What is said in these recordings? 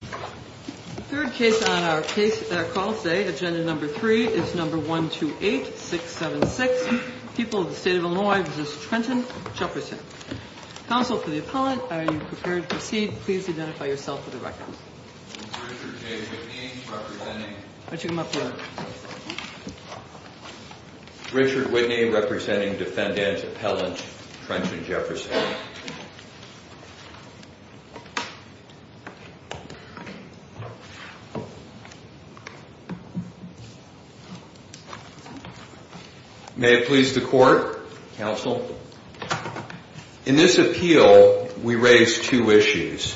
The third case on our call today, Agenda No. 3, is No. 128-676, People of the State of Illinois v. Trenton Jefferson. Counsel for the Appellant, are you prepared to proceed? Please identify yourself for the record. I'm Richard J. Whitney, representing... Why don't you come up here? Richard Whitney, representing Defendant Appellant Trenton Jefferson. May it please the Court, Counsel. In this appeal, we raise two issues.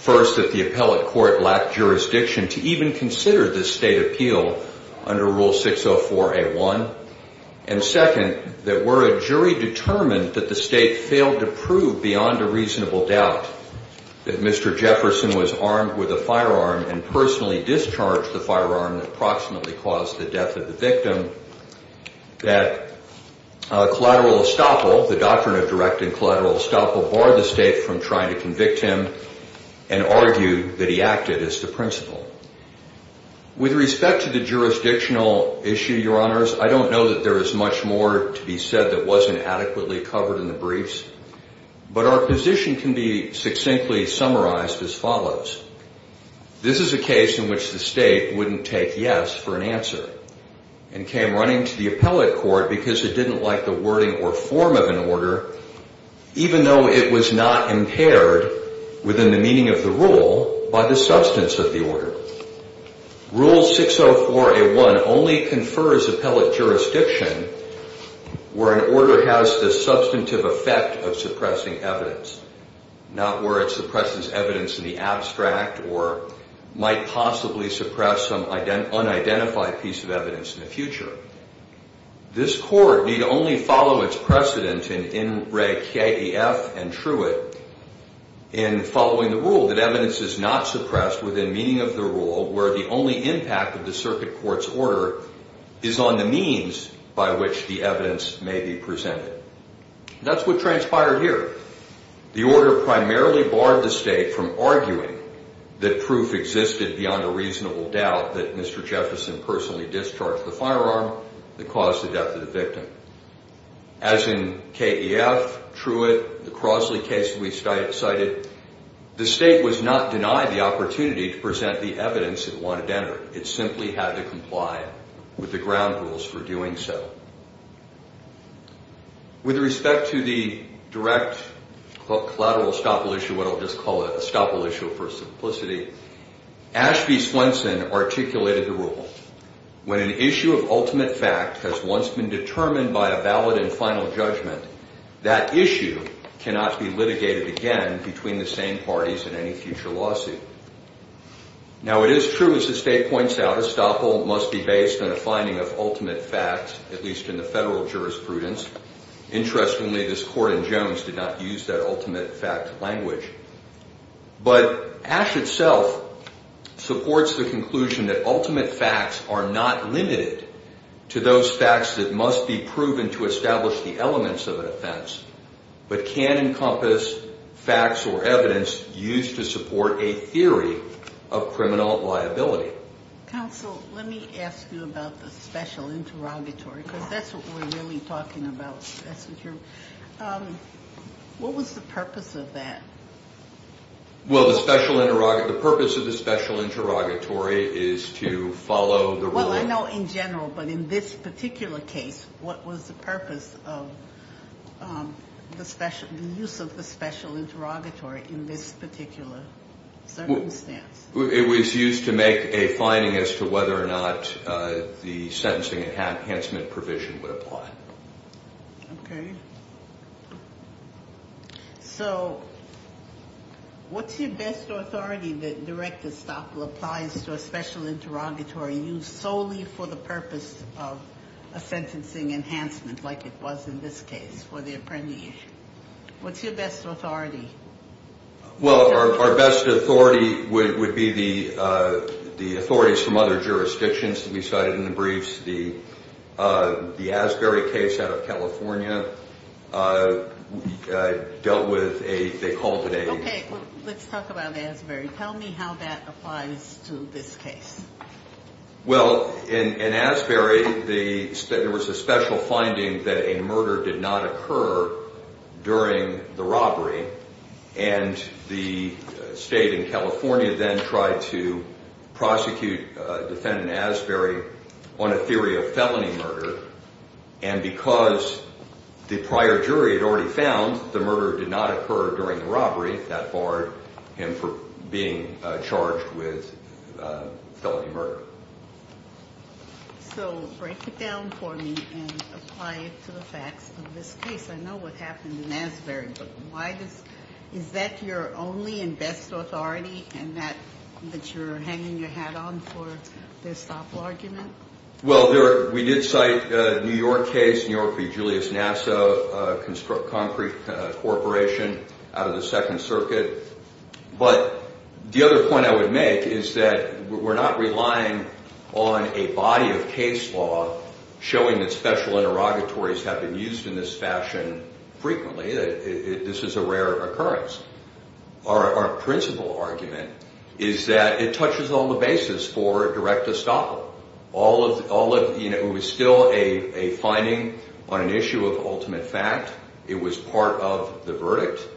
First, that the Appellate Court lacked jurisdiction to even consider this state appeal under Rule 604A1. And second, that were a jury determined that the state failed to prove beyond a reasonable doubt that Mr. Jefferson was armed with a firearm and personally discharged the firearm that approximately caused the death of the victim. That collateral estoppel, the doctrine of direct and collateral estoppel, barred the state from trying to convict him and argued that he acted as to principle. With respect to the jurisdictional issue, Your Honors, I don't know that there is much more to be said that wasn't adequately covered in the briefs. But our position can be succinctly summarized as follows. This is a case in which the state wouldn't take yes for an answer and came running to the Appellate Court because it didn't like the wording or form of an order, even though it was not impaired within the meaning of the rule by the substance of the order. Rule 604A1 only confers appellate jurisdiction where an order has the substantive effect of suppressing evidence, not where it suppresses evidence in the abstract or might possibly suppress some unidentified piece of evidence in the future. This Court need only follow its precedent in In Reg KEF and Truett in following the rule that evidence is not suppressed within meaning of the rule where the only impact of the circuit court's order is on the means by which the evidence may be presented. That's what transpired here. The order primarily barred the state from arguing that proof existed beyond a reasonable doubt that Mr. Jefferson personally discharged the firearm that caused the death of the victim. As in KEF, Truett, the Crosley case we cited, the state was not denied the opportunity to present the evidence it wanted entered. It simply had to comply with the ground rules for doing so. With respect to the direct collateral estoppel issue, what I'll just call an estoppel issue for simplicity, Ashby Swenson articulated the rule. When an issue of ultimate fact has once been determined by a valid and final judgment, that issue cannot be litigated again between the same parties in any future lawsuit. Now, it is true, as the state points out, estoppel must be based on a finding of ultimate fact, at least in the federal jurisprudence. Interestingly, this Court in Jones did not use that ultimate fact language. But Ash itself supports the conclusion that ultimate facts are not limited to those facts that must be proven to establish the elements of an offense, but can encompass facts or evidence used to support a theory of criminal liability. Counsel, let me ask you about the special interrogatory, because that's what we're really talking about. That's true. What was the purpose of that? Well, the purpose of the special interrogatory is to follow the rule. Well, I know in general, but in this particular case, what was the purpose of the use of the special interrogatory in this particular circumstance? It was used to make a finding as to whether or not the sentencing enhancement provision would apply. Okay. So what's your best authority that direct estoppel applies to a special interrogatory used solely for the purpose of a sentencing enhancement, like it was in this case for the apprehension? What's your best authority? Well, our best authority would be the authorities from other jurisdictions that we cited in the briefs. The Asbury case out of California dealt with a—they called it a— Okay, let's talk about Asbury. Tell me how that applies to this case. Well, in Asbury, there was a special finding that a murder did not occur during the robbery, and the state in California then tried to prosecute defendant Asbury on a theory of felony murder, and because the prior jury had already found the murder did not occur during the robbery, that barred him from being charged with felony murder. So break it down for me and apply it to the facts of this case. I know what happened in Asbury, but is that your only and best authority and that you're hanging your hat on for the estoppel argument? Well, we did cite a New York case, New York v. Julius Nassau, a concrete corporation out of the Second Circuit. But the other point I would make is that we're not relying on a body of case law showing that special interrogatories have been used in this fashion frequently. This is a rare occurrence. Our principal argument is that it touches on the basis for direct estoppel. It was still a finding on an issue of ultimate fact. It was part of the verdict.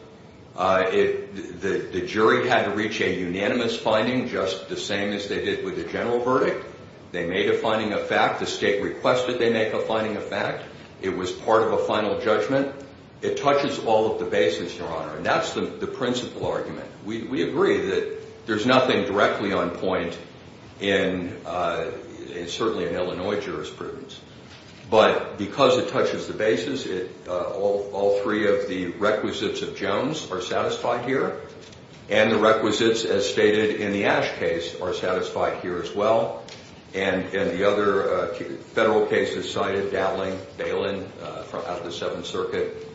The jury had to reach a unanimous finding just the same as they did with the general verdict. They made a finding of fact. The state requested they make a finding of fact. It was part of a final judgment. It touches all of the basis, Your Honor, and that's the principal argument. We agree that there's nothing directly on point, certainly in Illinois jurisprudence, but because it touches the basis, all three of the requisites of Jones are satisfied here and the requisites, as stated in the Ash case, are satisfied here as well. And the other federal cases cited, Dattling, Balin, out of the Seventh Circuit,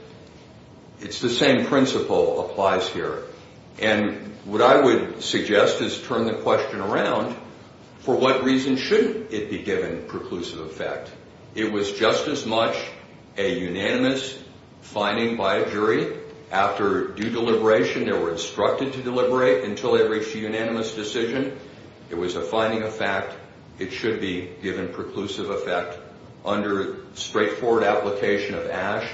it's the same principle applies here. And what I would suggest is turn the question around. For what reason shouldn't it be given preclusive effect? It was just as much a unanimous finding by a jury. After due deliberation, they were instructed to deliberate until they reached a unanimous decision. It was a finding of fact. It should be given preclusive effect under straightforward application of Ash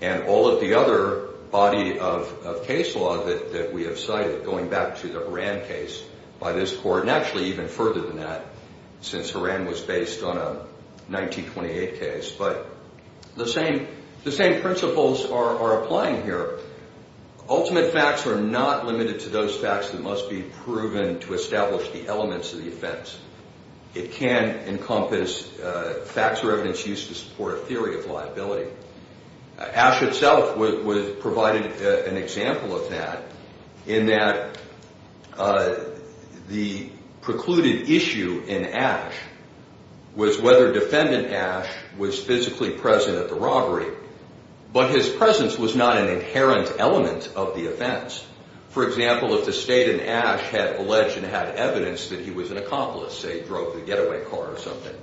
and all of the other body of case law that we have cited going back to the Horan case by this court and actually even further than that since Horan was based on a 1928 case. But the same principles are applying here. Ultimate facts are not limited to those facts that must be proven to establish the elements of the offense. It can encompass facts or evidence used to support a theory of liability. Ash itself was provided an example of that in that the precluded issue in Ash was whether Defendant Ash was physically present at the robbery, but his presence was not an inherent element of the offense. For example, if the State and Ash had alleged and had evidence that he was an accomplice, say drove the getaway car or something,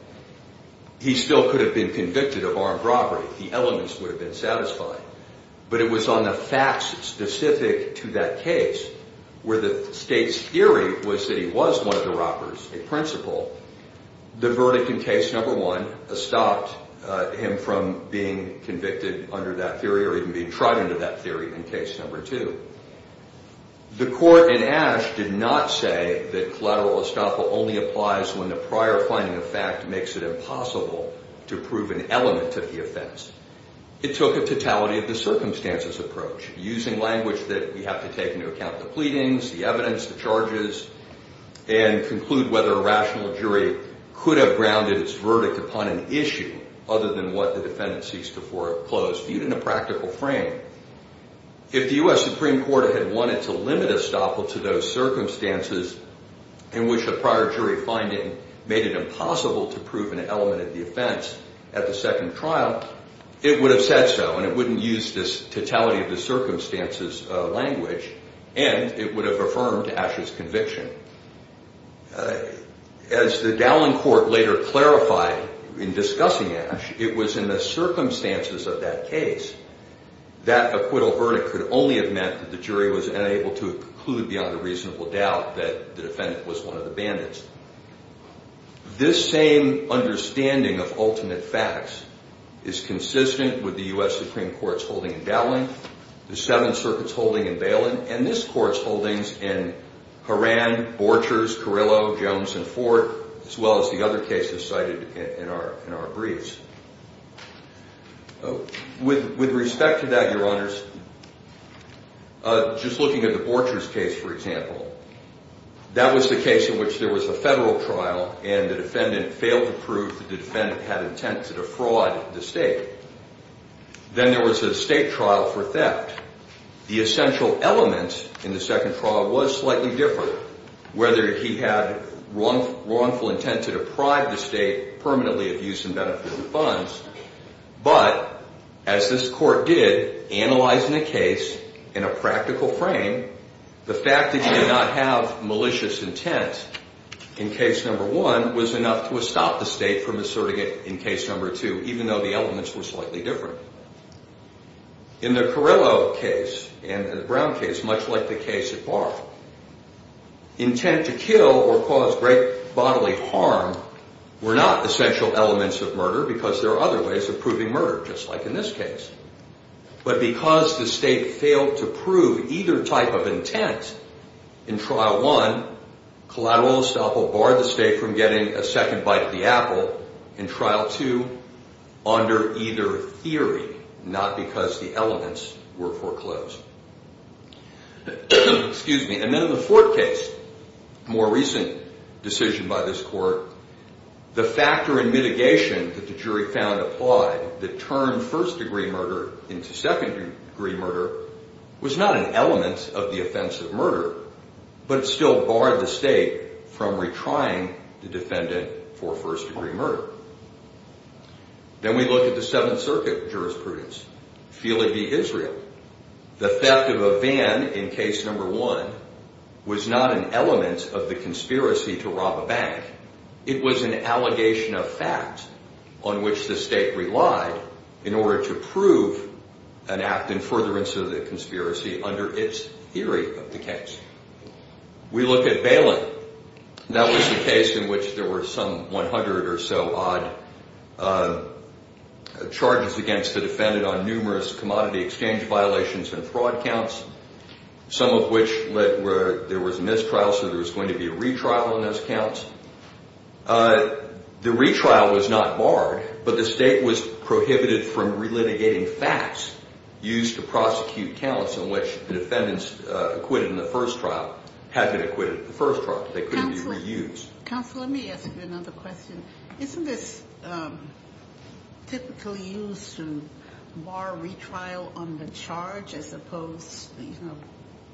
he still could have been convicted of armed robbery. The elements would have been satisfied, but it was on the facts specific to that case where the State's theory was that he was one of the robbers, a principal. The verdict in case number one stopped him from being convicted under that theory or even being tried under that theory in case number two. The court in Ash did not say that collateral estoppel only applies when the prior finding of fact makes it impossible to prove an element of the offense. It took a totality-of-the-circumstances approach, using language that we have to take into account the pleadings, the evidence, the charges, and conclude whether a rational jury could have grounded its verdict upon an issue other than what the defendant seeks to foreclose, viewed in a practical frame. If the U.S. Supreme Court had wanted to limit estoppel to those circumstances in which a prior jury finding made it impossible to prove an element of the offense at the second trial, it would have said so, and it wouldn't use this totality-of-the-circumstances language, and it would have affirmed Ash's conviction. As the Dallin Court later clarified in discussing Ash, it was in the circumstances of that case that acquittal verdict could only have meant that the jury was unable to conclude beyond a reasonable doubt that the defendant was one of the bandits. This same understanding of ultimate facts is consistent with the U.S. Supreme Court's holding in Dallin, the Seventh Circuit's holding in Baylin, and this Court's holdings in Horan, Borchers, Carillo, Jones, and Ford, as well as the other cases cited in our briefs. With respect to that, Your Honors, just looking at the Borchers case, for example, that was the case in which there was a federal trial, and the defendant failed to prove that the defendant had intent to defraud the state. Then there was a state trial for theft. The essential element in the second trial was slightly different, whether he had wrongful intent to deprive the state permanently of use and benefit of the funds, but as this Court did, analyzing the case in a practical frame, the fact that he did not have malicious intent in case number one was enough to stop the state from asserting it in case number two, even though the elements were slightly different. In the Carillo case and the Brown case, much like the case at Barr, intent to kill or cause great bodily harm were not essential elements of murder because there are other ways of proving murder, just like in this case. But because the state failed to prove either type of intent in trial one, collateral estoppel barred the state from getting a second bite of the apple in trial two under either theory, not because the elements were foreclosed. And then in the Ford case, a more recent decision by this Court, the factor in mitigation that the jury found applied that turned first-degree murder into second-degree murder was not an element of the offense of murder, but it still barred the state from retrying the defendant for first-degree murder. Then we look at the Seventh Circuit jurisprudence. Feel it be Israel, the theft of a van in case number one was not an element of the conspiracy to rob a bank. It was an allegation of fact on which the state relied in order to prove an act in furtherance of the conspiracy under its theory of the case. We look at Bailyn. That was the case in which there were some 100 or so odd charges against the defendant on numerous commodity exchange violations and fraud counts, some of which there was a mistrial, so there was going to be a retrial on those counts. The retrial was not barred, but the state was prohibited from relitigating facts used to prosecute counts in which the defendants acquitted in the first trial had been acquitted in the first trial. They couldn't be reused. Counsel, let me ask you another question. Isn't this typically used to bar retrial on the charge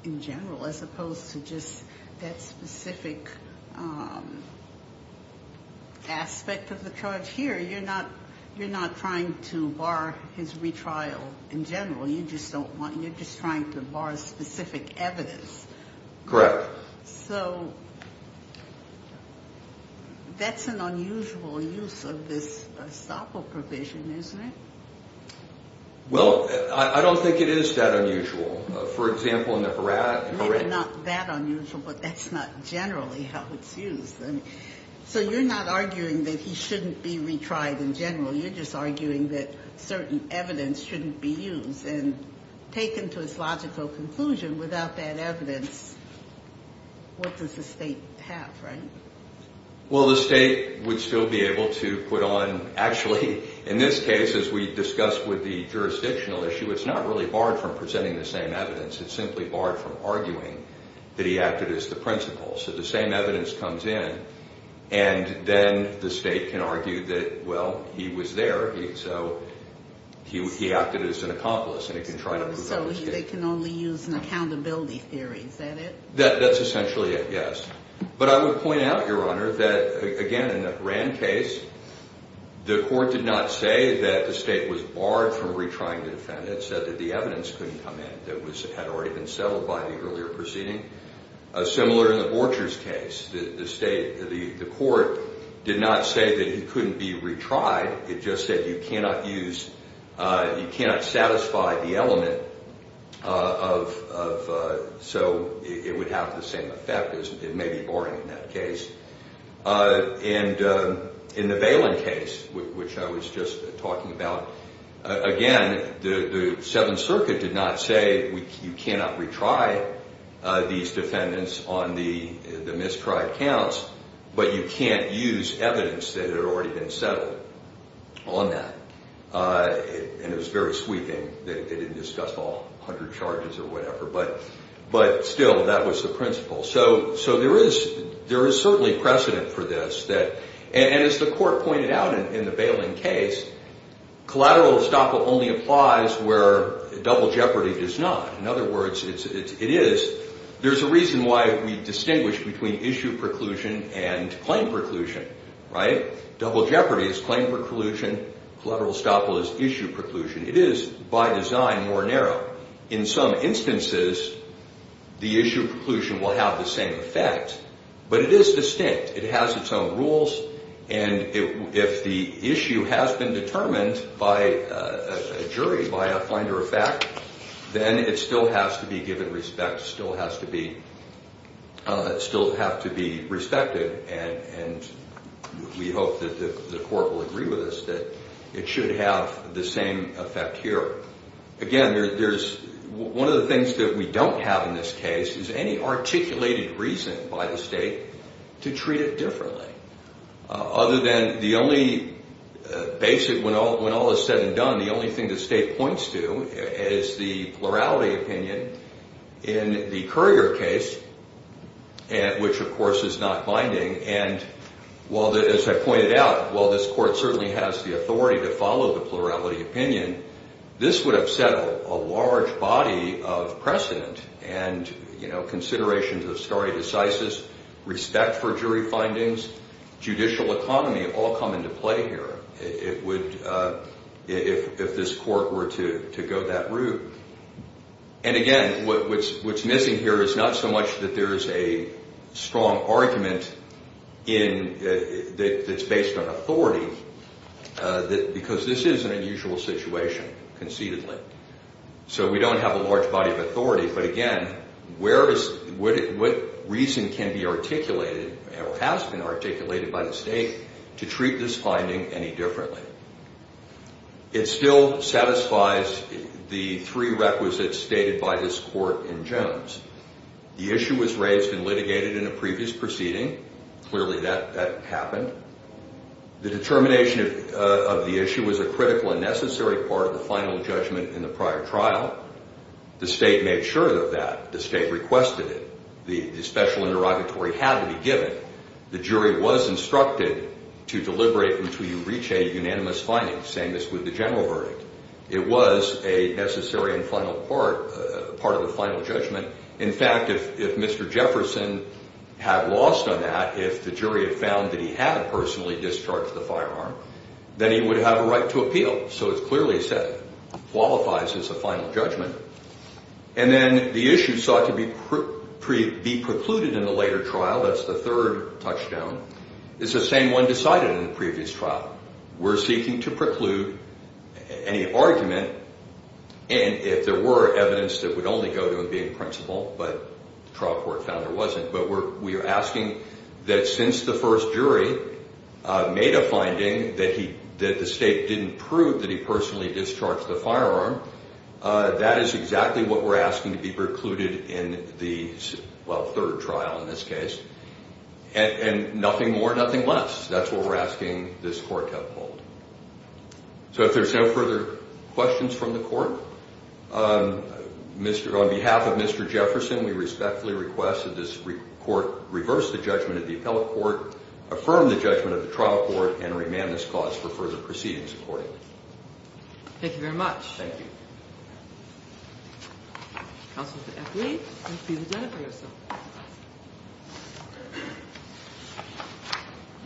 in general as opposed to just that specific aspect of the charge here? You're not trying to bar his retrial in general. You're just trying to bar specific evidence. Correct. So that's an unusual use of this estoppel provision, isn't it? Well, I don't think it is that unusual. For example, in the Horat. Maybe not that unusual, but that's not generally how it's used. So you're not arguing that he shouldn't be retried in general. You're just arguing that certain evidence shouldn't be used and taken to its logical conclusion. Without that evidence, what does the state have, right? Well, the state would still be able to put on. Actually, in this case, as we discussed with the jurisdictional issue, it's not really barred from presenting the same evidence. It's simply barred from arguing that he acted as the principal. So the same evidence comes in, and then the state can argue that, well, he was there. So he acted as an accomplice, and he can try to prove that. So they can only use an accountability theory. Is that it? That's essentially it, yes. But I would point out, Your Honor, that, again, in the Rand case, the court did not say that the state was barred from retrying the defendant. It said that the evidence couldn't come in that had already been settled by the earlier proceeding. Similar in the Borchers case. The court did not say that he couldn't be retried. It just said you cannot use, you cannot satisfy the element of, so it would have the same effect. It may be boring in that case. And in the Valen case, which I was just talking about, again, the Seventh Circuit did not say you cannot retry these defendants on the mistried counts, but you can't use evidence that had already been settled on that. And it was very sweeping. They didn't discuss all 100 charges or whatever, but still, that was the principle. So there is certainly precedent for this. And as the court pointed out in the Valen case, collateral estoppel only applies where double jeopardy does not. In other words, it is. There's a reason why we distinguish between issue preclusion and claim preclusion, right? Double jeopardy is claim preclusion. Collateral estoppel is issue preclusion. It is, by design, more narrow. In some instances, the issue preclusion will have the same effect, but it is distinct. It has its own rules, and if the issue has been determined by a jury, by a finder of fact, then it still has to be given respect, still has to be respected, and we hope that the court will agree with us that it should have the same effect here. Again, one of the things that we don't have in this case is any articulated reason by the state to treat it differently. Other than the only basic, when all is said and done, the only thing the state points to is the plurality opinion in the Currier case, which, of course, is not binding. And as I pointed out, while this court certainly has the authority to follow the plurality opinion, this would have settled a large body of precedent and considerations of stare decisis, respect for jury findings, judicial economy all come into play here. If this court were to go that route. And again, what's missing here is not so much that there is a strong argument that's based on authority, because this is an unusual situation, concededly. So we don't have a large body of authority, but again, what reason can be articulated or has been articulated by the state to treat this finding any differently? It still satisfies the three requisites stated by this court in Jones. The issue was raised and litigated in a previous proceeding. Clearly, that happened. The determination of the issue was a critical and necessary part of the final judgment in the prior trial. The state made sure of that. The state requested it. The special interrogatory had to be given. The jury was instructed to deliberate until you reach a unanimous finding, same as with the general verdict. It was a necessary and final part of the final judgment. In fact, if Mr. Jefferson had lost on that, if the jury had found that he had personally discharged the firearm, then he would have a right to appeal. So it clearly qualifies as a final judgment. And then the issue sought to be precluded in the later trial, that's the third touchdown, is the same one decided in the previous trial. We're seeking to preclude any argument, and if there were evidence that would only go to him being principled, but the trial court found there wasn't, but we're asking that since the first jury made a finding that the state didn't prove that he personally discharged the firearm, that is exactly what we're asking to be precluded in the, well, third trial in this case. And nothing more, nothing less. That's what we're asking this court to uphold. So if there's no further questions from the court, on behalf of Mr. Jefferson, we respectfully request that this court reverse the judgment of the appellate court, affirm the judgment of the trial court, and remand this cause for further proceedings accordingly. Thank you very much. Thank you. Counsel for F. Lee, please identify yourself. Good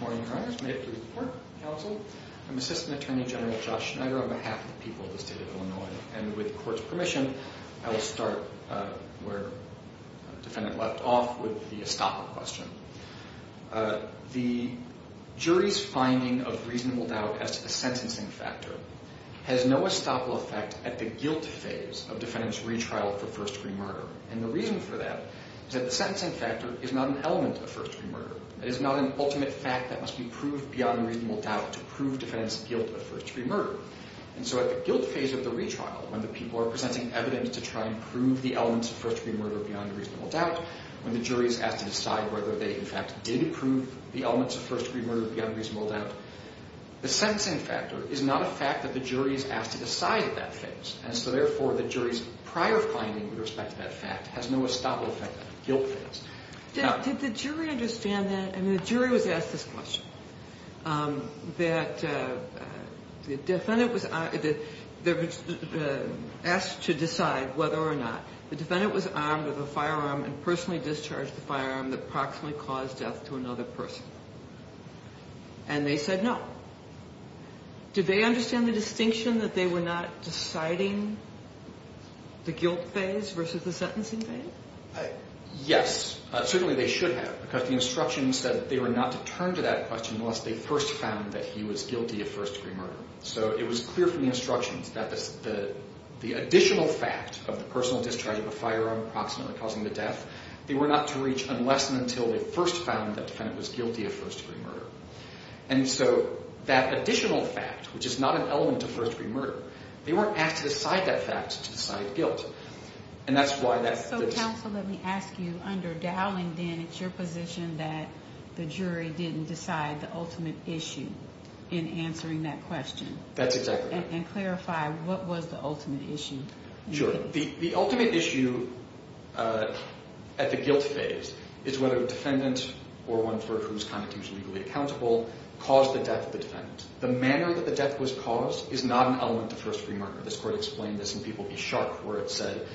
morning, Your Honors. May it please the court, counsel. I'm Assistant Attorney General Josh Schneider on behalf of the people of the state of Illinois. And with the court's permission, I will start where the defendant left off with the estoppel question. The jury's finding of reasonable doubt as to the sentencing factor has no estoppel effect at the guilt phase of defendant's retrial for first-degree murder. And the reason for that is that the sentencing factor is not an element of first-degree murder. It is not an ultimate fact that must be proved beyond reasonable doubt to prove defendant's guilt of first-degree murder. And so at the guilt phase of the retrial, when the people are presenting evidence to try and prove the elements of first-degree murder beyond reasonable doubt, when the jury is asked to decide whether they, in fact, did prove the elements of first-degree murder beyond reasonable doubt, the sentencing factor is not a fact that the jury is asked to decide at that phase. And so, therefore, the jury's prior finding with respect to that fact has no estoppel effect at the guilt phase. Did the jury understand that? And the jury was asked this question, that the defendant was asked to decide whether or not the defendant was armed with a firearm and personally discharged the firearm that proximately caused death to another person. And they said no. Did they understand the distinction that they were not deciding the guilt phase versus the sentencing phase? Yes, certainly they should have, because the instructions said that they were not to turn to that question unless they first found that he was guilty of first-degree murder. So it was clear from the instructions that the additional fact of the personal discharge of a firearm proximately causing the death, they were not to reach unless and until they first found that the defendant was guilty of first-degree murder. And so that additional fact, which is not an element of first-degree murder, they weren't asked to decide that fact to decide guilt. So counsel, let me ask you, under Dowling, then, it's your position that the jury didn't decide the ultimate issue in answering that question? That's exactly right. And clarify, what was the ultimate issue? Sure. The ultimate issue at the guilt phase is whether the defendant, or one for whose connotation is legally accountable, caused the death of the defendant. The manner that the death was caused is not an element of first-degree murder. This court explained this in People v. Sharp, where it said,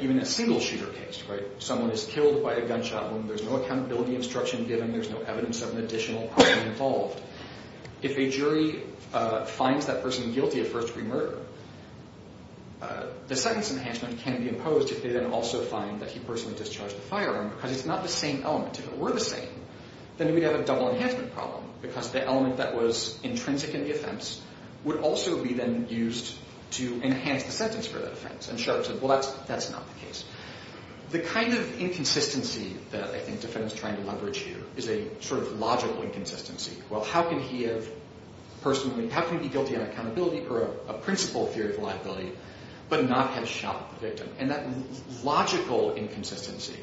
even a single-shooter case, right, someone is killed by a gunshot wound, there's no accountability instruction given, there's no evidence of an additional person involved. If a jury finds that person guilty of first-degree murder, the sentence enhancement can be imposed if they then also find that he personally discharged the firearm, because it's not the same element. If it were the same, then we'd have a double enhancement problem, because the element that was intrinsic in the offense would also be then used to enhance the sentence for that offense. And Sharp said, well, that's not the case. The kind of inconsistency that I think the defendant is trying to leverage here is a sort of logical inconsistency. Well, how can he have personally, how can he be guilty on accountability or a principal theory of liability, but not have shot the victim? And that logical inconsistency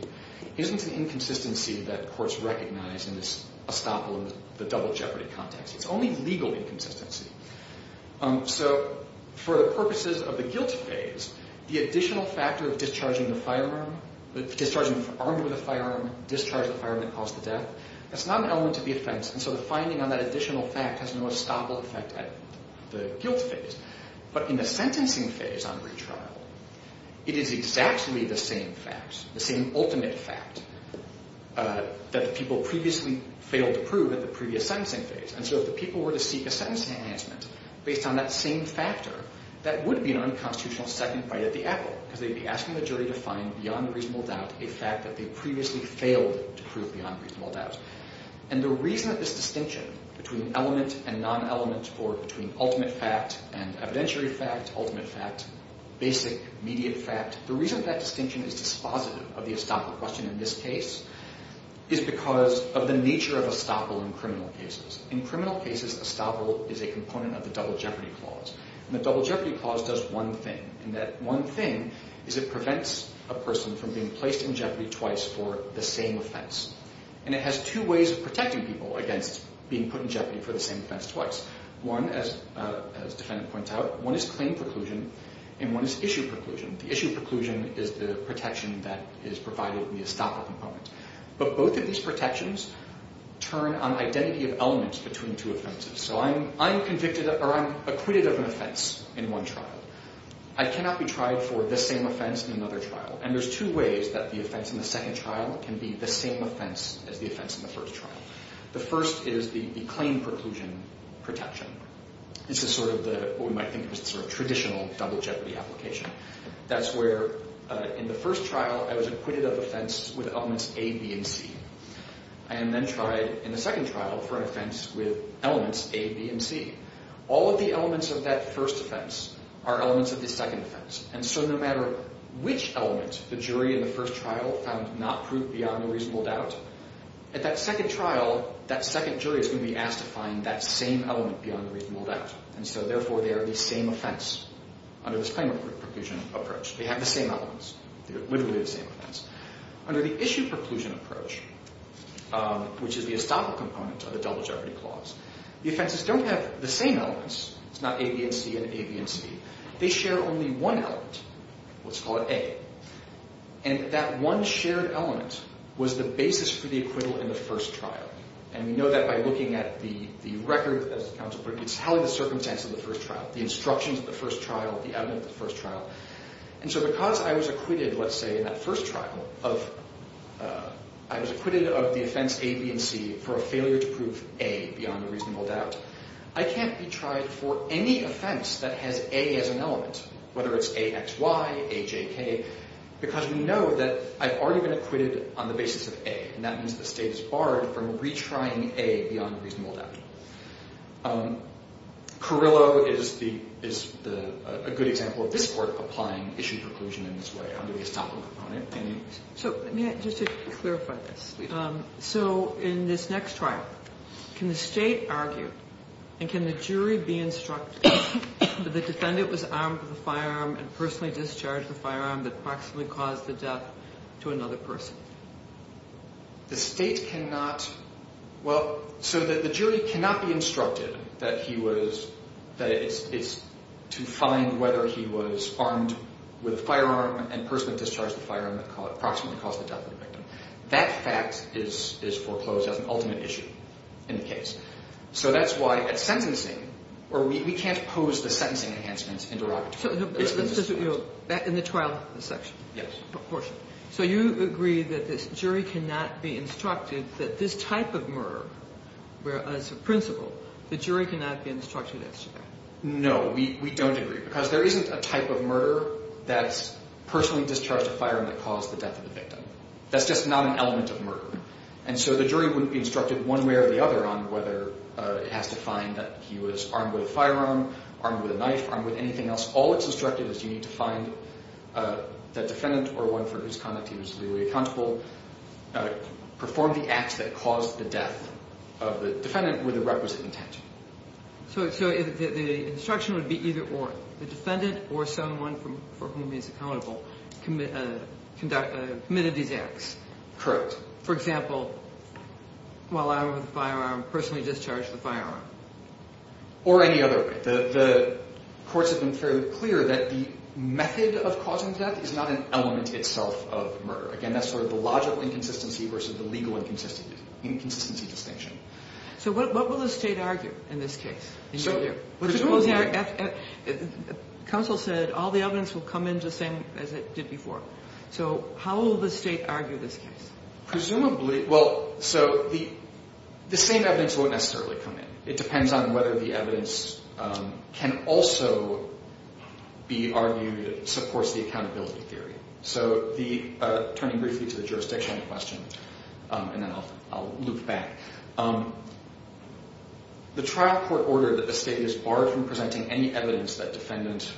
isn't an inconsistency that courts recognize in this estoppel in the double jeopardy context. It's only legal inconsistency. So for the purposes of the guilt phase, the additional factor of discharging the firearm, discharging armed with a firearm, discharging a firearm that caused the death, that's not an element of the offense, and so the finding on that additional fact has no estoppel effect at the guilt phase. But in the sentencing phase on retrial, it is exactly the same facts, the same ultimate fact that the people previously failed to prove at the previous sentencing phase. And so if the people were to seek a sentence enhancement based on that same factor, that would be an unconstitutional second bite at the apple, because they'd be asking the jury to find beyond a reasonable doubt a fact that they previously failed to prove beyond reasonable doubt. And the reason that this distinction between element and non-element or between ultimate fact and evidentiary fact, ultimate fact, basic, immediate fact, the reason that distinction is dispositive of the estoppel question in this case is because of the nature of estoppel in criminal cases. In criminal cases, estoppel is a component of the double jeopardy clause. And the double jeopardy clause does one thing, and that one thing is it prevents a person from being placed in jeopardy twice for the same offense. And it has two ways of protecting people against being put in jeopardy for the same offense twice. One, as the defendant points out, one is claim preclusion and one is issue preclusion. The issue preclusion is the protection that is provided via estoppel component. But both of these protections turn on identity of elements between two offenses. So I'm acquitted of an offense in one trial. I cannot be tried for the same offense in another trial. And there's two ways that the offense in the second trial can be the same offense as the offense in the first trial. The first is the claim preclusion protection. This is sort of what we might think of as the sort of traditional double jeopardy application. That's where in the first trial I was acquitted of offense with elements A, B, and C. I am then tried in the second trial for an offense with elements A, B, and C. All of the elements of that first offense are elements of the second offense. And so no matter which element the jury in the first trial found not proved beyond a reasonable doubt, at that second trial, that second jury is going to be asked to find that same element beyond a reasonable doubt. And so, therefore, they are the same offense under this claim preclusion approach. They have the same elements. They're literally the same offense. Under the issue preclusion approach, which is the estoppel component of the double jeopardy clause, the offenses don't have the same elements. It's not A, B, and C and A, B, and C. They share only one element. Let's call it A. And that one shared element was the basis for the acquittal in the first trial. And we know that by looking at the record, as counsel put it, it's how the circumstance of the first trial, the instructions of the first trial, the evidence of the first trial. And so because I was acquitted, let's say, in that first trial of the offense A, B, and C, for a failure to prove A beyond a reasonable doubt, I can't be tried for any offense that has A as an element, whether it's AXY, AJK, because we know that I've already been acquitted on the basis of A. And that means the state is barred from retrying A beyond a reasonable doubt. Carrillo is a good example of this Court applying issue preclusion in this way under the estoppel component. So just to clarify this, so in this next trial, can the state argue and can the jury be instructed that the defendant was armed with a firearm and personally discharged the firearm that proximately caused the death to another person? The state cannot – well, so the jury cannot be instructed that he was – that he was armed with a firearm that proximately caused the death of the victim. That fact is foreclosed as an ultimate issue in the case. So that's why at sentencing – or we can't pose the sentencing enhancements in derogatory terms. In the trial section? Yes. So you agree that this jury cannot be instructed that this type of murder, where as a principle the jury cannot be instructed as to that? No, we don't agree. Because there isn't a type of murder that's personally discharged a firearm that caused the death of the victim. That's just not an element of murder. And so the jury wouldn't be instructed one way or the other on whether it has to find that he was armed with a firearm, armed with a knife, armed with anything else. All it's instructed is you need to find the defendant or one for whose conduct he was legally accountable, perform the act that caused the death of the defendant with the requisite intent. So the instruction would be either or. The defendant or someone for whom he's accountable committed these acts. Correct. For example, while I was with a firearm, personally discharged the firearm. Or any other way. The courts have been fairly clear that the method of causing death is not an element itself of murder. Again, that's sort of the logical inconsistency versus the legal inconsistency distinction. So what will the state argue in this case? Counsel said all the evidence will come in just the same as it did before. So how will the state argue this case? Presumably, well, so the same evidence won't necessarily come in. It depends on whether the evidence can also be argued supports the accountability theory. So turning briefly to the jurisdiction question, and then I'll loop back. The trial court ordered that the state is barred from presenting any evidence that defendant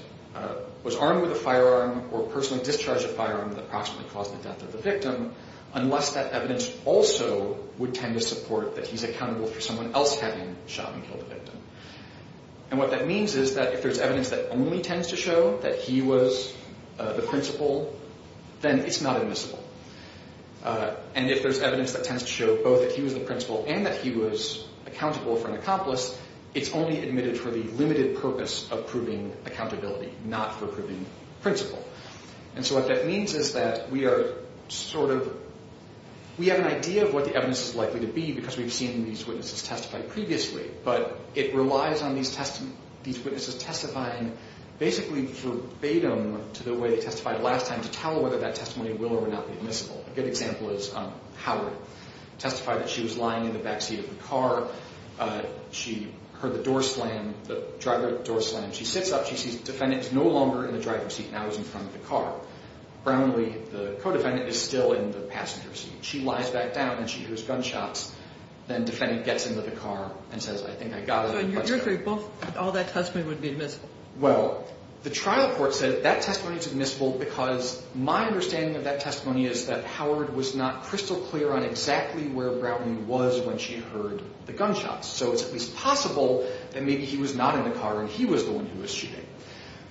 was armed with a firearm or personally discharged a firearm that approximately caused the death of the victim unless that evidence also would tend to support that he's accountable for someone else having shot and killed the victim. And what that means is that if there's evidence that only tends to show that he was the principal, then it's not admissible. And if there's evidence that tends to show both that he was the principal and that he was accountable for an accomplice, it's only admitted for the limited purpose of proving accountability, not for proving principle. And so what that means is that we are sort of, we have an idea of what the evidence is likely to be because we've seen these witnesses testify previously. But it relies on these witnesses testifying basically verbatim to the way they testified last time to tell whether that testimony will or will not be admissible. A good example is Howard testified that she was lying in the back seat of the car. She heard the door slam, the driver door slam. She sits up, she sees the defendant is no longer in the driver's seat and now is in front of the car. Brownlee, the co-defendant, is still in the passenger seat. She lies back down and she hears gunshots. Then the defendant gets into the car and says, I think I got it. So in your theory, both, all that testimony would be admissible. Well, the trial court said that testimony is admissible because my understanding of that testimony is that Howard was not crystal clear on exactly where Brownlee was when she heard the gunshots. So it's at least possible that maybe he was not in the car and he was the one who was shooting.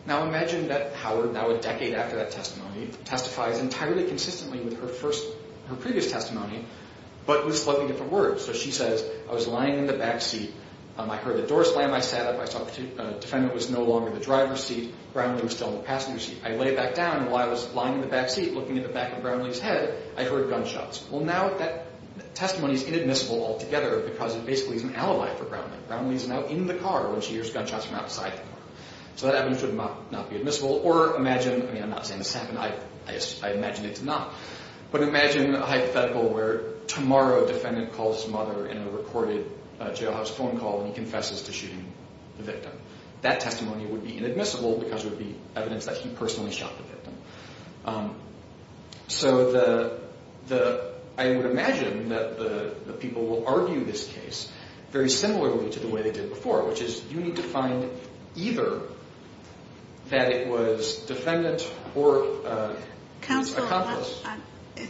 Now imagine that Howard, now a decade after that testimony, testifies entirely consistently with her previous testimony but with slightly different words. So she says, I was lying in the back seat. I heard the door slam. I sat up. I saw the defendant was no longer in the driver's seat. Brownlee was still in the passenger seat. I lay back down and while I was lying in the back seat looking at the back of Brownlee's head, I heard gunshots. Well, now that testimony is inadmissible altogether because it basically is an alibi for Brownlee. Brownlee is now in the car when she hears gunshots from outside the car. So that evidence would not be admissible. Or imagine, I mean I'm not saying this happened. I imagine it's not. But imagine a hypothetical where tomorrow a defendant calls his mother in a recorded jailhouse phone call and he confesses to shooting the victim. That testimony would be inadmissible because it would be evidence that he personally shot the victim. So I would imagine that the people will argue this case very similarly to the way they did before, which is you need to find either that it was defendant or his accomplice. Counsel,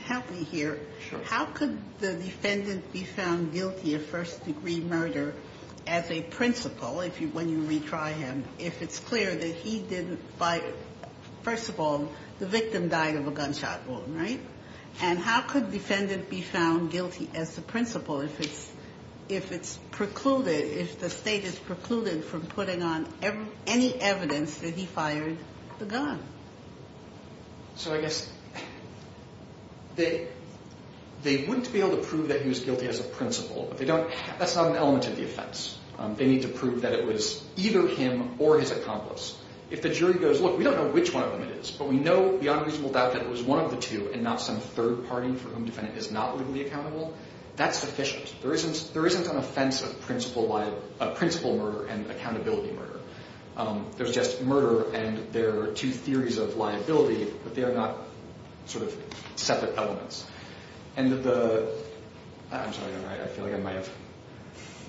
help me here. Sure. How could the defendant be found guilty of first-degree murder as a principal when you retry him if it's clear that he didn't, first of all, the victim died of a gunshot wound, right? And how could defendant be found guilty as the principal if it's precluded, if the state is precluded from putting on any evidence that he fired the gun? So I guess they wouldn't be able to prove that he was guilty as a principal. That's not an element of the offense. They need to prove that it was either him or his accomplice. If the jury goes, look, we don't know which one of them it is, but we know beyond reasonable doubt that it was one of the two and not some third party for whom the defendant is not legally accountable, that's sufficient. There isn't an offense of principal murder and accountability murder. There's just murder and there are two theories of liability, but they are not sort of separate elements. I'm sorry, I feel like I might have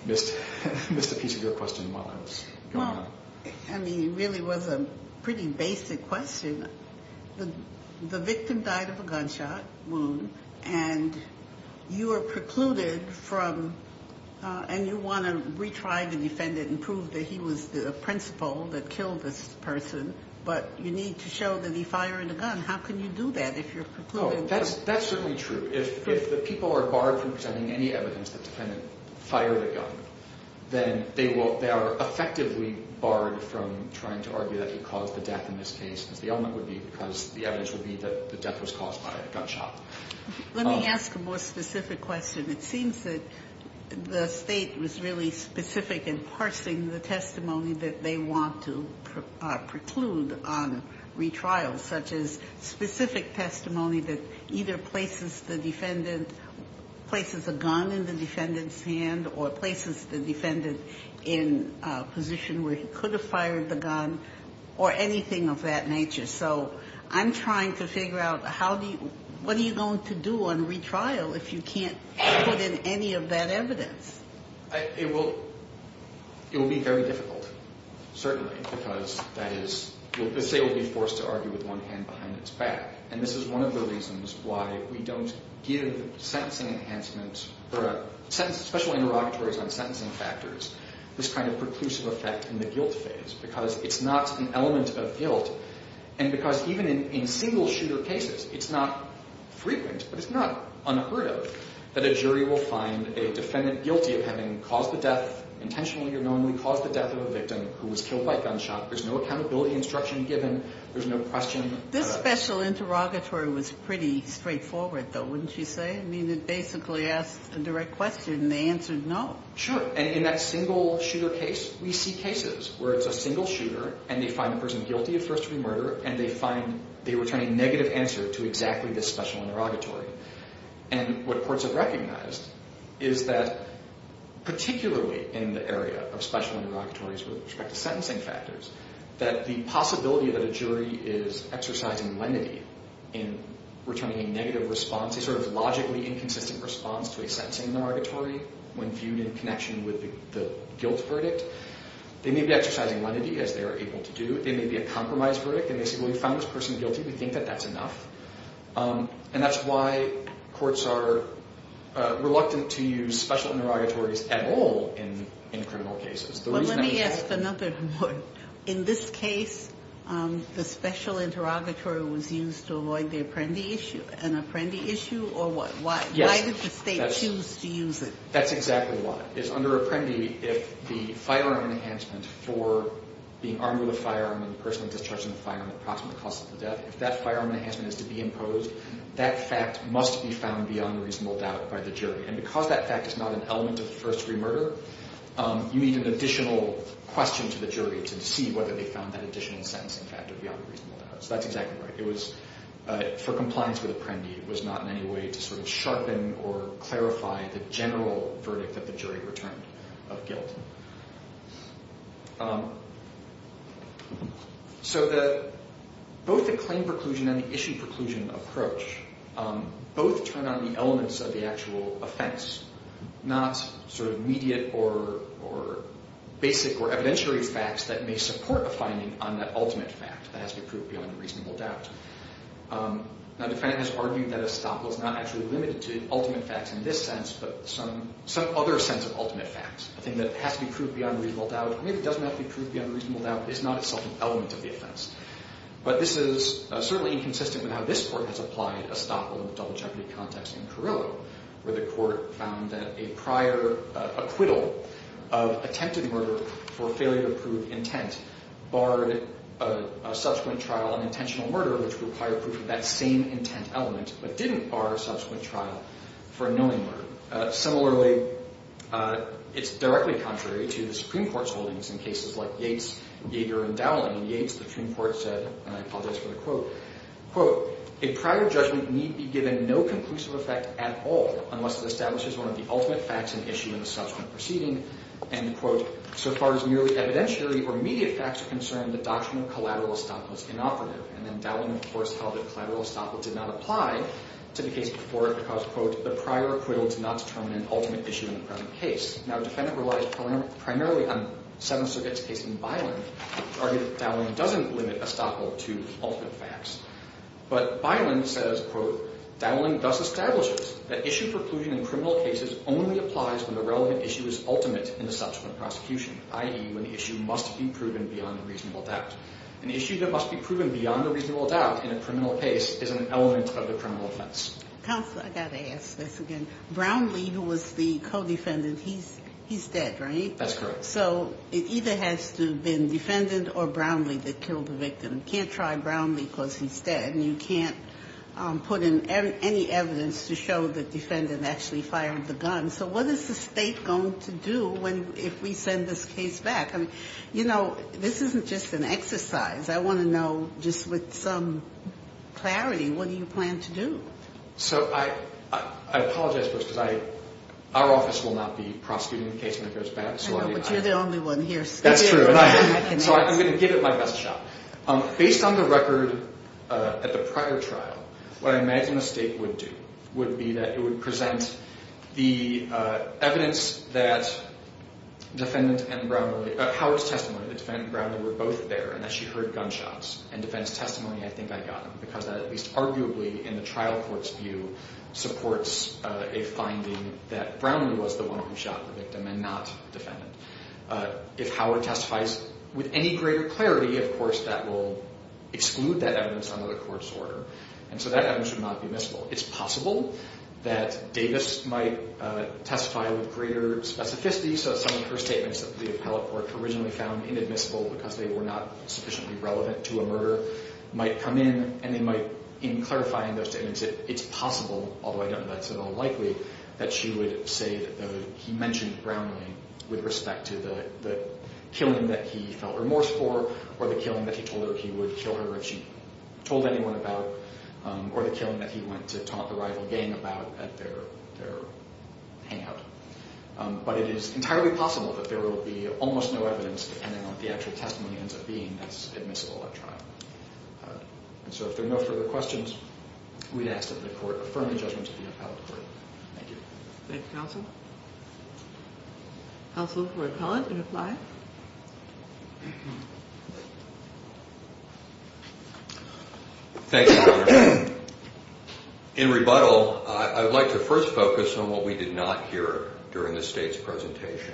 missed a piece of your question while I was going on. I mean, it really was a pretty basic question. The victim died of a gunshot wound and you are precluded from and you want to retry the defendant and prove that he was the principal that killed this person, but you need to show that he fired a gun. How can you do that if you're precluded? That's certainly true. If the people are barred from presenting any evidence that the defendant fired a gun, then they are effectively barred from trying to argue that he caused the death in this case because the evidence would be that the death was caused by a gunshot. Let me ask a more specific question. It seems that the State was really specific in parsing the testimony that they want to preclude on retrials, such as specific testimony that either places the defendant, places a gun in the defendant's hand or places the defendant in a position where he could have fired the gun or anything of that nature. So I'm trying to figure out what are you going to do on retrial if you can't put in any of that evidence? It will be very difficult, certainly, because the State will be forced to argue with one hand behind its back. And this is one of the reasons why we don't give sentencing enhancements or special interrogatories on sentencing factors this kind of preclusive effect in the guilt phase, because it's not an element of guilt. And because even in single-shooter cases, it's not frequent, but it's not unheard of, that a jury will find a defendant guilty of having caused the death, intentionally or knowingly caused the death of a victim who was killed by gunshot. There's no accountability instruction given. There's no question. This special interrogatory was pretty straightforward, though, wouldn't you say? I mean, it basically asked a direct question and they answered no. Sure, and in that single-shooter case, we see cases where it's a single shooter and they find the person guilty of first-degree murder and they return a negative answer to exactly this special interrogatory. And what courts have recognized is that, particularly in the area of special interrogatories with respect to sentencing factors, that the possibility that a jury is exercising lenity in returning a negative response, a sort of logically inconsistent response to a sentencing interrogatory when viewed in connection with the guilt verdict, they may be exercising lenity, as they are able to do. They may be a compromised verdict, and they say, well, we found this person guilty. We think that that's enough. And that's why courts are reluctant to use special interrogatories at all in criminal cases. But let me ask another one. In this case, the special interrogatory was used to avoid the apprendee issue. An apprendee issue, or what? Why did the state choose to use it? That's exactly why. Under apprendee, if the firearm enhancement for being armed with a firearm and the person discharging the firearm at the approximate cost of the death, if that firearm enhancement is to be imposed, that fact must be found beyond reasonable doubt by the jury. And because that fact is not an element of first-degree murder, you need an additional question to the jury to see whether they found that additional sentencing factor beyond reasonable doubt. So that's exactly right. For compliance with apprendee, it was not in any way to sort of sharpen or clarify the general verdict that the jury returned of guilt. So both the claim preclusion and the issue preclusion approach both turn on the elements of the actual offense, not sort of immediate or basic or evidentiary facts that may support a finding on that ultimate fact that has to be proved beyond a reasonable doubt. Now, Defendant has argued that estoppel is not actually limited to ultimate facts in this sense, but some other sense of ultimate facts. A thing that has to be proved beyond a reasonable doubt, or maybe doesn't have to be proved beyond a reasonable doubt, is not itself an element of the offense. But this is certainly inconsistent with how this Court has applied estoppel in the double jeopardy context in Carrillo, where the Court found that a prior acquittal of attempted murder for failure to prove intent barred a subsequent trial on intentional murder which required proof of that same intent element, but didn't bar a subsequent trial for a knowing murder. Similarly, it's directly contrary to the Supreme Court's holdings in cases like Yates, Yeager, and Dowling. In Yates, the Supreme Court said, and I apologize for the quote, quote, a prior judgment need be given no conclusive effect at all unless it establishes one of the ultimate facts and issue in the subsequent proceeding, end quote. So far as merely evidentiary or immediate facts are concerned, the doctrine of collateral estoppel is inoperative. And then Dowling, of course, held that collateral estoppel did not apply to the case before it because, quote, the prior acquittal did not determine an ultimate issue in the present case. Now, a defendant relies primarily on Seventh Circuit's case in Byland to argue that Dowling doesn't limit estoppel to ultimate facts. But Byland says, quote, Dowling thus establishes that issue preclusion in criminal cases only applies when the relevant issue is ultimate in the subsequent prosecution, i.e., when the issue must be proven beyond a reasonable doubt. An issue that must be proven beyond a reasonable doubt in a criminal case is an element of the criminal offense. Counsel, I've got to ask this again. Brownlee, who was the co-defendant, he's dead, right? That's correct. So it either has to have been defendant or Brownlee that killed the victim. You can't try Brownlee because he's dead, and you can't put in any evidence to show the defendant actually fired the gun. So what is the State going to do if we send this case back? You know, this isn't just an exercise. I want to know just with some clarity, what do you plan to do? So I apologize, folks, because our office will not be prosecuting the case when it goes back. I know, but you're the only one here. That's true. So I'm going to give it my best shot. Based on the record at the prior trial, what I imagine the State would do would be that it would present the evidence that Howard's testimony, that defendant and Brownlee were both there and that she heard gunshots, and defendant's testimony, I think I got them because that at least arguably in the trial court's view supports a finding that Brownlee was the one who shot the victim and not defendant. If Howard testifies with any greater clarity, of course, that will exclude that evidence under the court's order, and so that evidence would not be missable. It's possible that Davis might testify with greater specificity, so some of her statements that the appellate court originally found inadmissible because they were not sufficiently relevant to a murder might come in and they might, in clarifying those statements, it's possible, although I don't know that's at all likely, that she would say that he mentioned Brownlee with respect to the killing that he felt remorse for or the killing that he told her he would kill her if she told anyone about or the killing that he went to talk the rival gang about at their hangout. But it is entirely possible that there will be almost no evidence depending on what the actual testimony ends up being that's admissible at trial. And so if there are no further questions, we ask that the court affirm the judgment of the appellate court. Thank you. Thank you, counsel. Counsel for Collins, you can apply. Thank you, Your Honor. In rebuttal, I would like to first focus on what we did not hear during the State's presentation.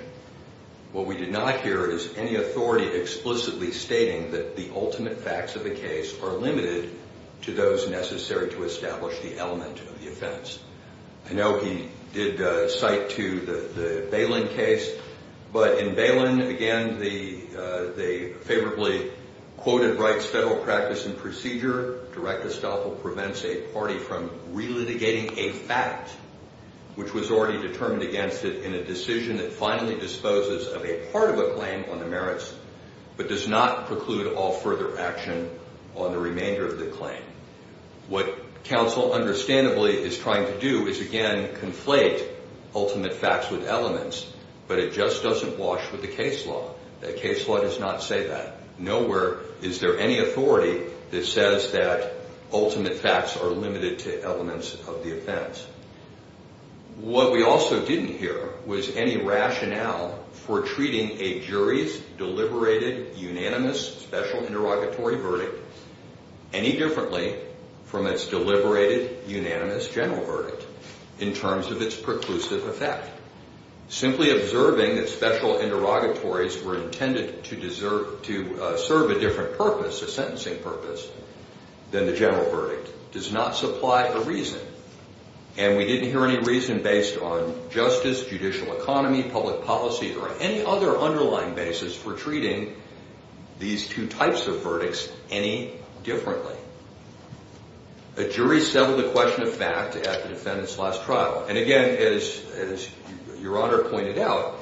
What we did not hear is any authority explicitly stating that the ultimate facts of the case are limited to those necessary to establish the element of the offense. I know he did cite to the Balin case, but in Balin, again, the favorably quoted rights, federal practice and procedure, direct estoppel prevents a party from relitigating a fact which was already determined against it in a decision that finally disposes of a part of a claim on the merits but does not preclude all further action on the remainder of the claim. What counsel understandably is trying to do is, again, conflate ultimate facts with elements, but it just doesn't wash with the case law. The case law does not say that. Nowhere is there any authority that says that ultimate facts are limited to elements of the offense. What we also didn't hear was any rationale for treating a jury's deliberated unanimous special interrogatory verdict any differently from its deliberated unanimous general verdict in terms of its preclusive effect. Simply observing that special interrogatories were intended to serve a different purpose, a sentencing purpose, than the general verdict does not supply a reason, and we didn't hear any reason based on justice, judicial economy, public policy, or any other underlying basis for treating these two types of verdicts any differently. A jury settled the question of fact at the defendant's last trial, and again, as Your Honor pointed out,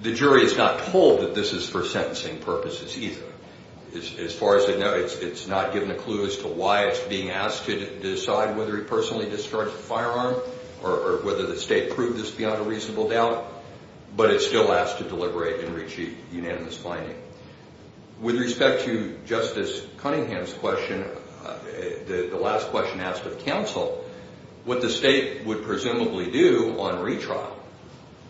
the jury is not told that this is for sentencing purposes either. As far as I know, it's not given a clue as to why it's being asked to decide whether he personally discharged the firearm or whether the state proved this beyond a reasonable doubt, but it's still asked to deliberate and reach a unanimous finding. With respect to Justice Cunningham's question, the last question asked of counsel, what the state would presumably do on retrial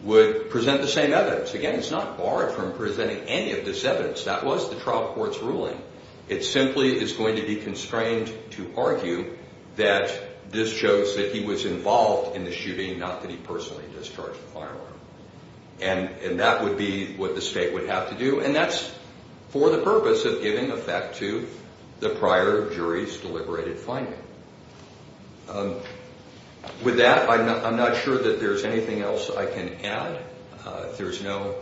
would present the same evidence. Again, it's not barred from presenting any of this evidence. That was the trial court's ruling. It simply is going to be constrained to argue that this shows that he was involved in the shooting, not that he personally discharged the firearm, and that would be what the state would have to do, and that's for the purpose of giving effect to the prior jury's deliberated finding. With that, I'm not sure that there's anything else I can add. If there's no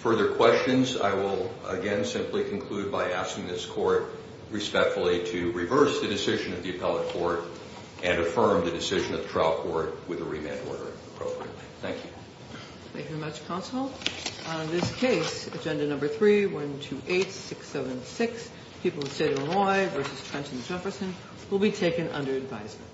further questions, I will, again, simply conclude by asking this court respectfully to reverse the decision of the appellate court and affirm the decision of the trial court with a remand order appropriately. Thank you. Thank you very much, counsel. On this case, Agenda No. 3128676, People of the State of Illinois v. Trenton Jefferson, will be taken under advisement.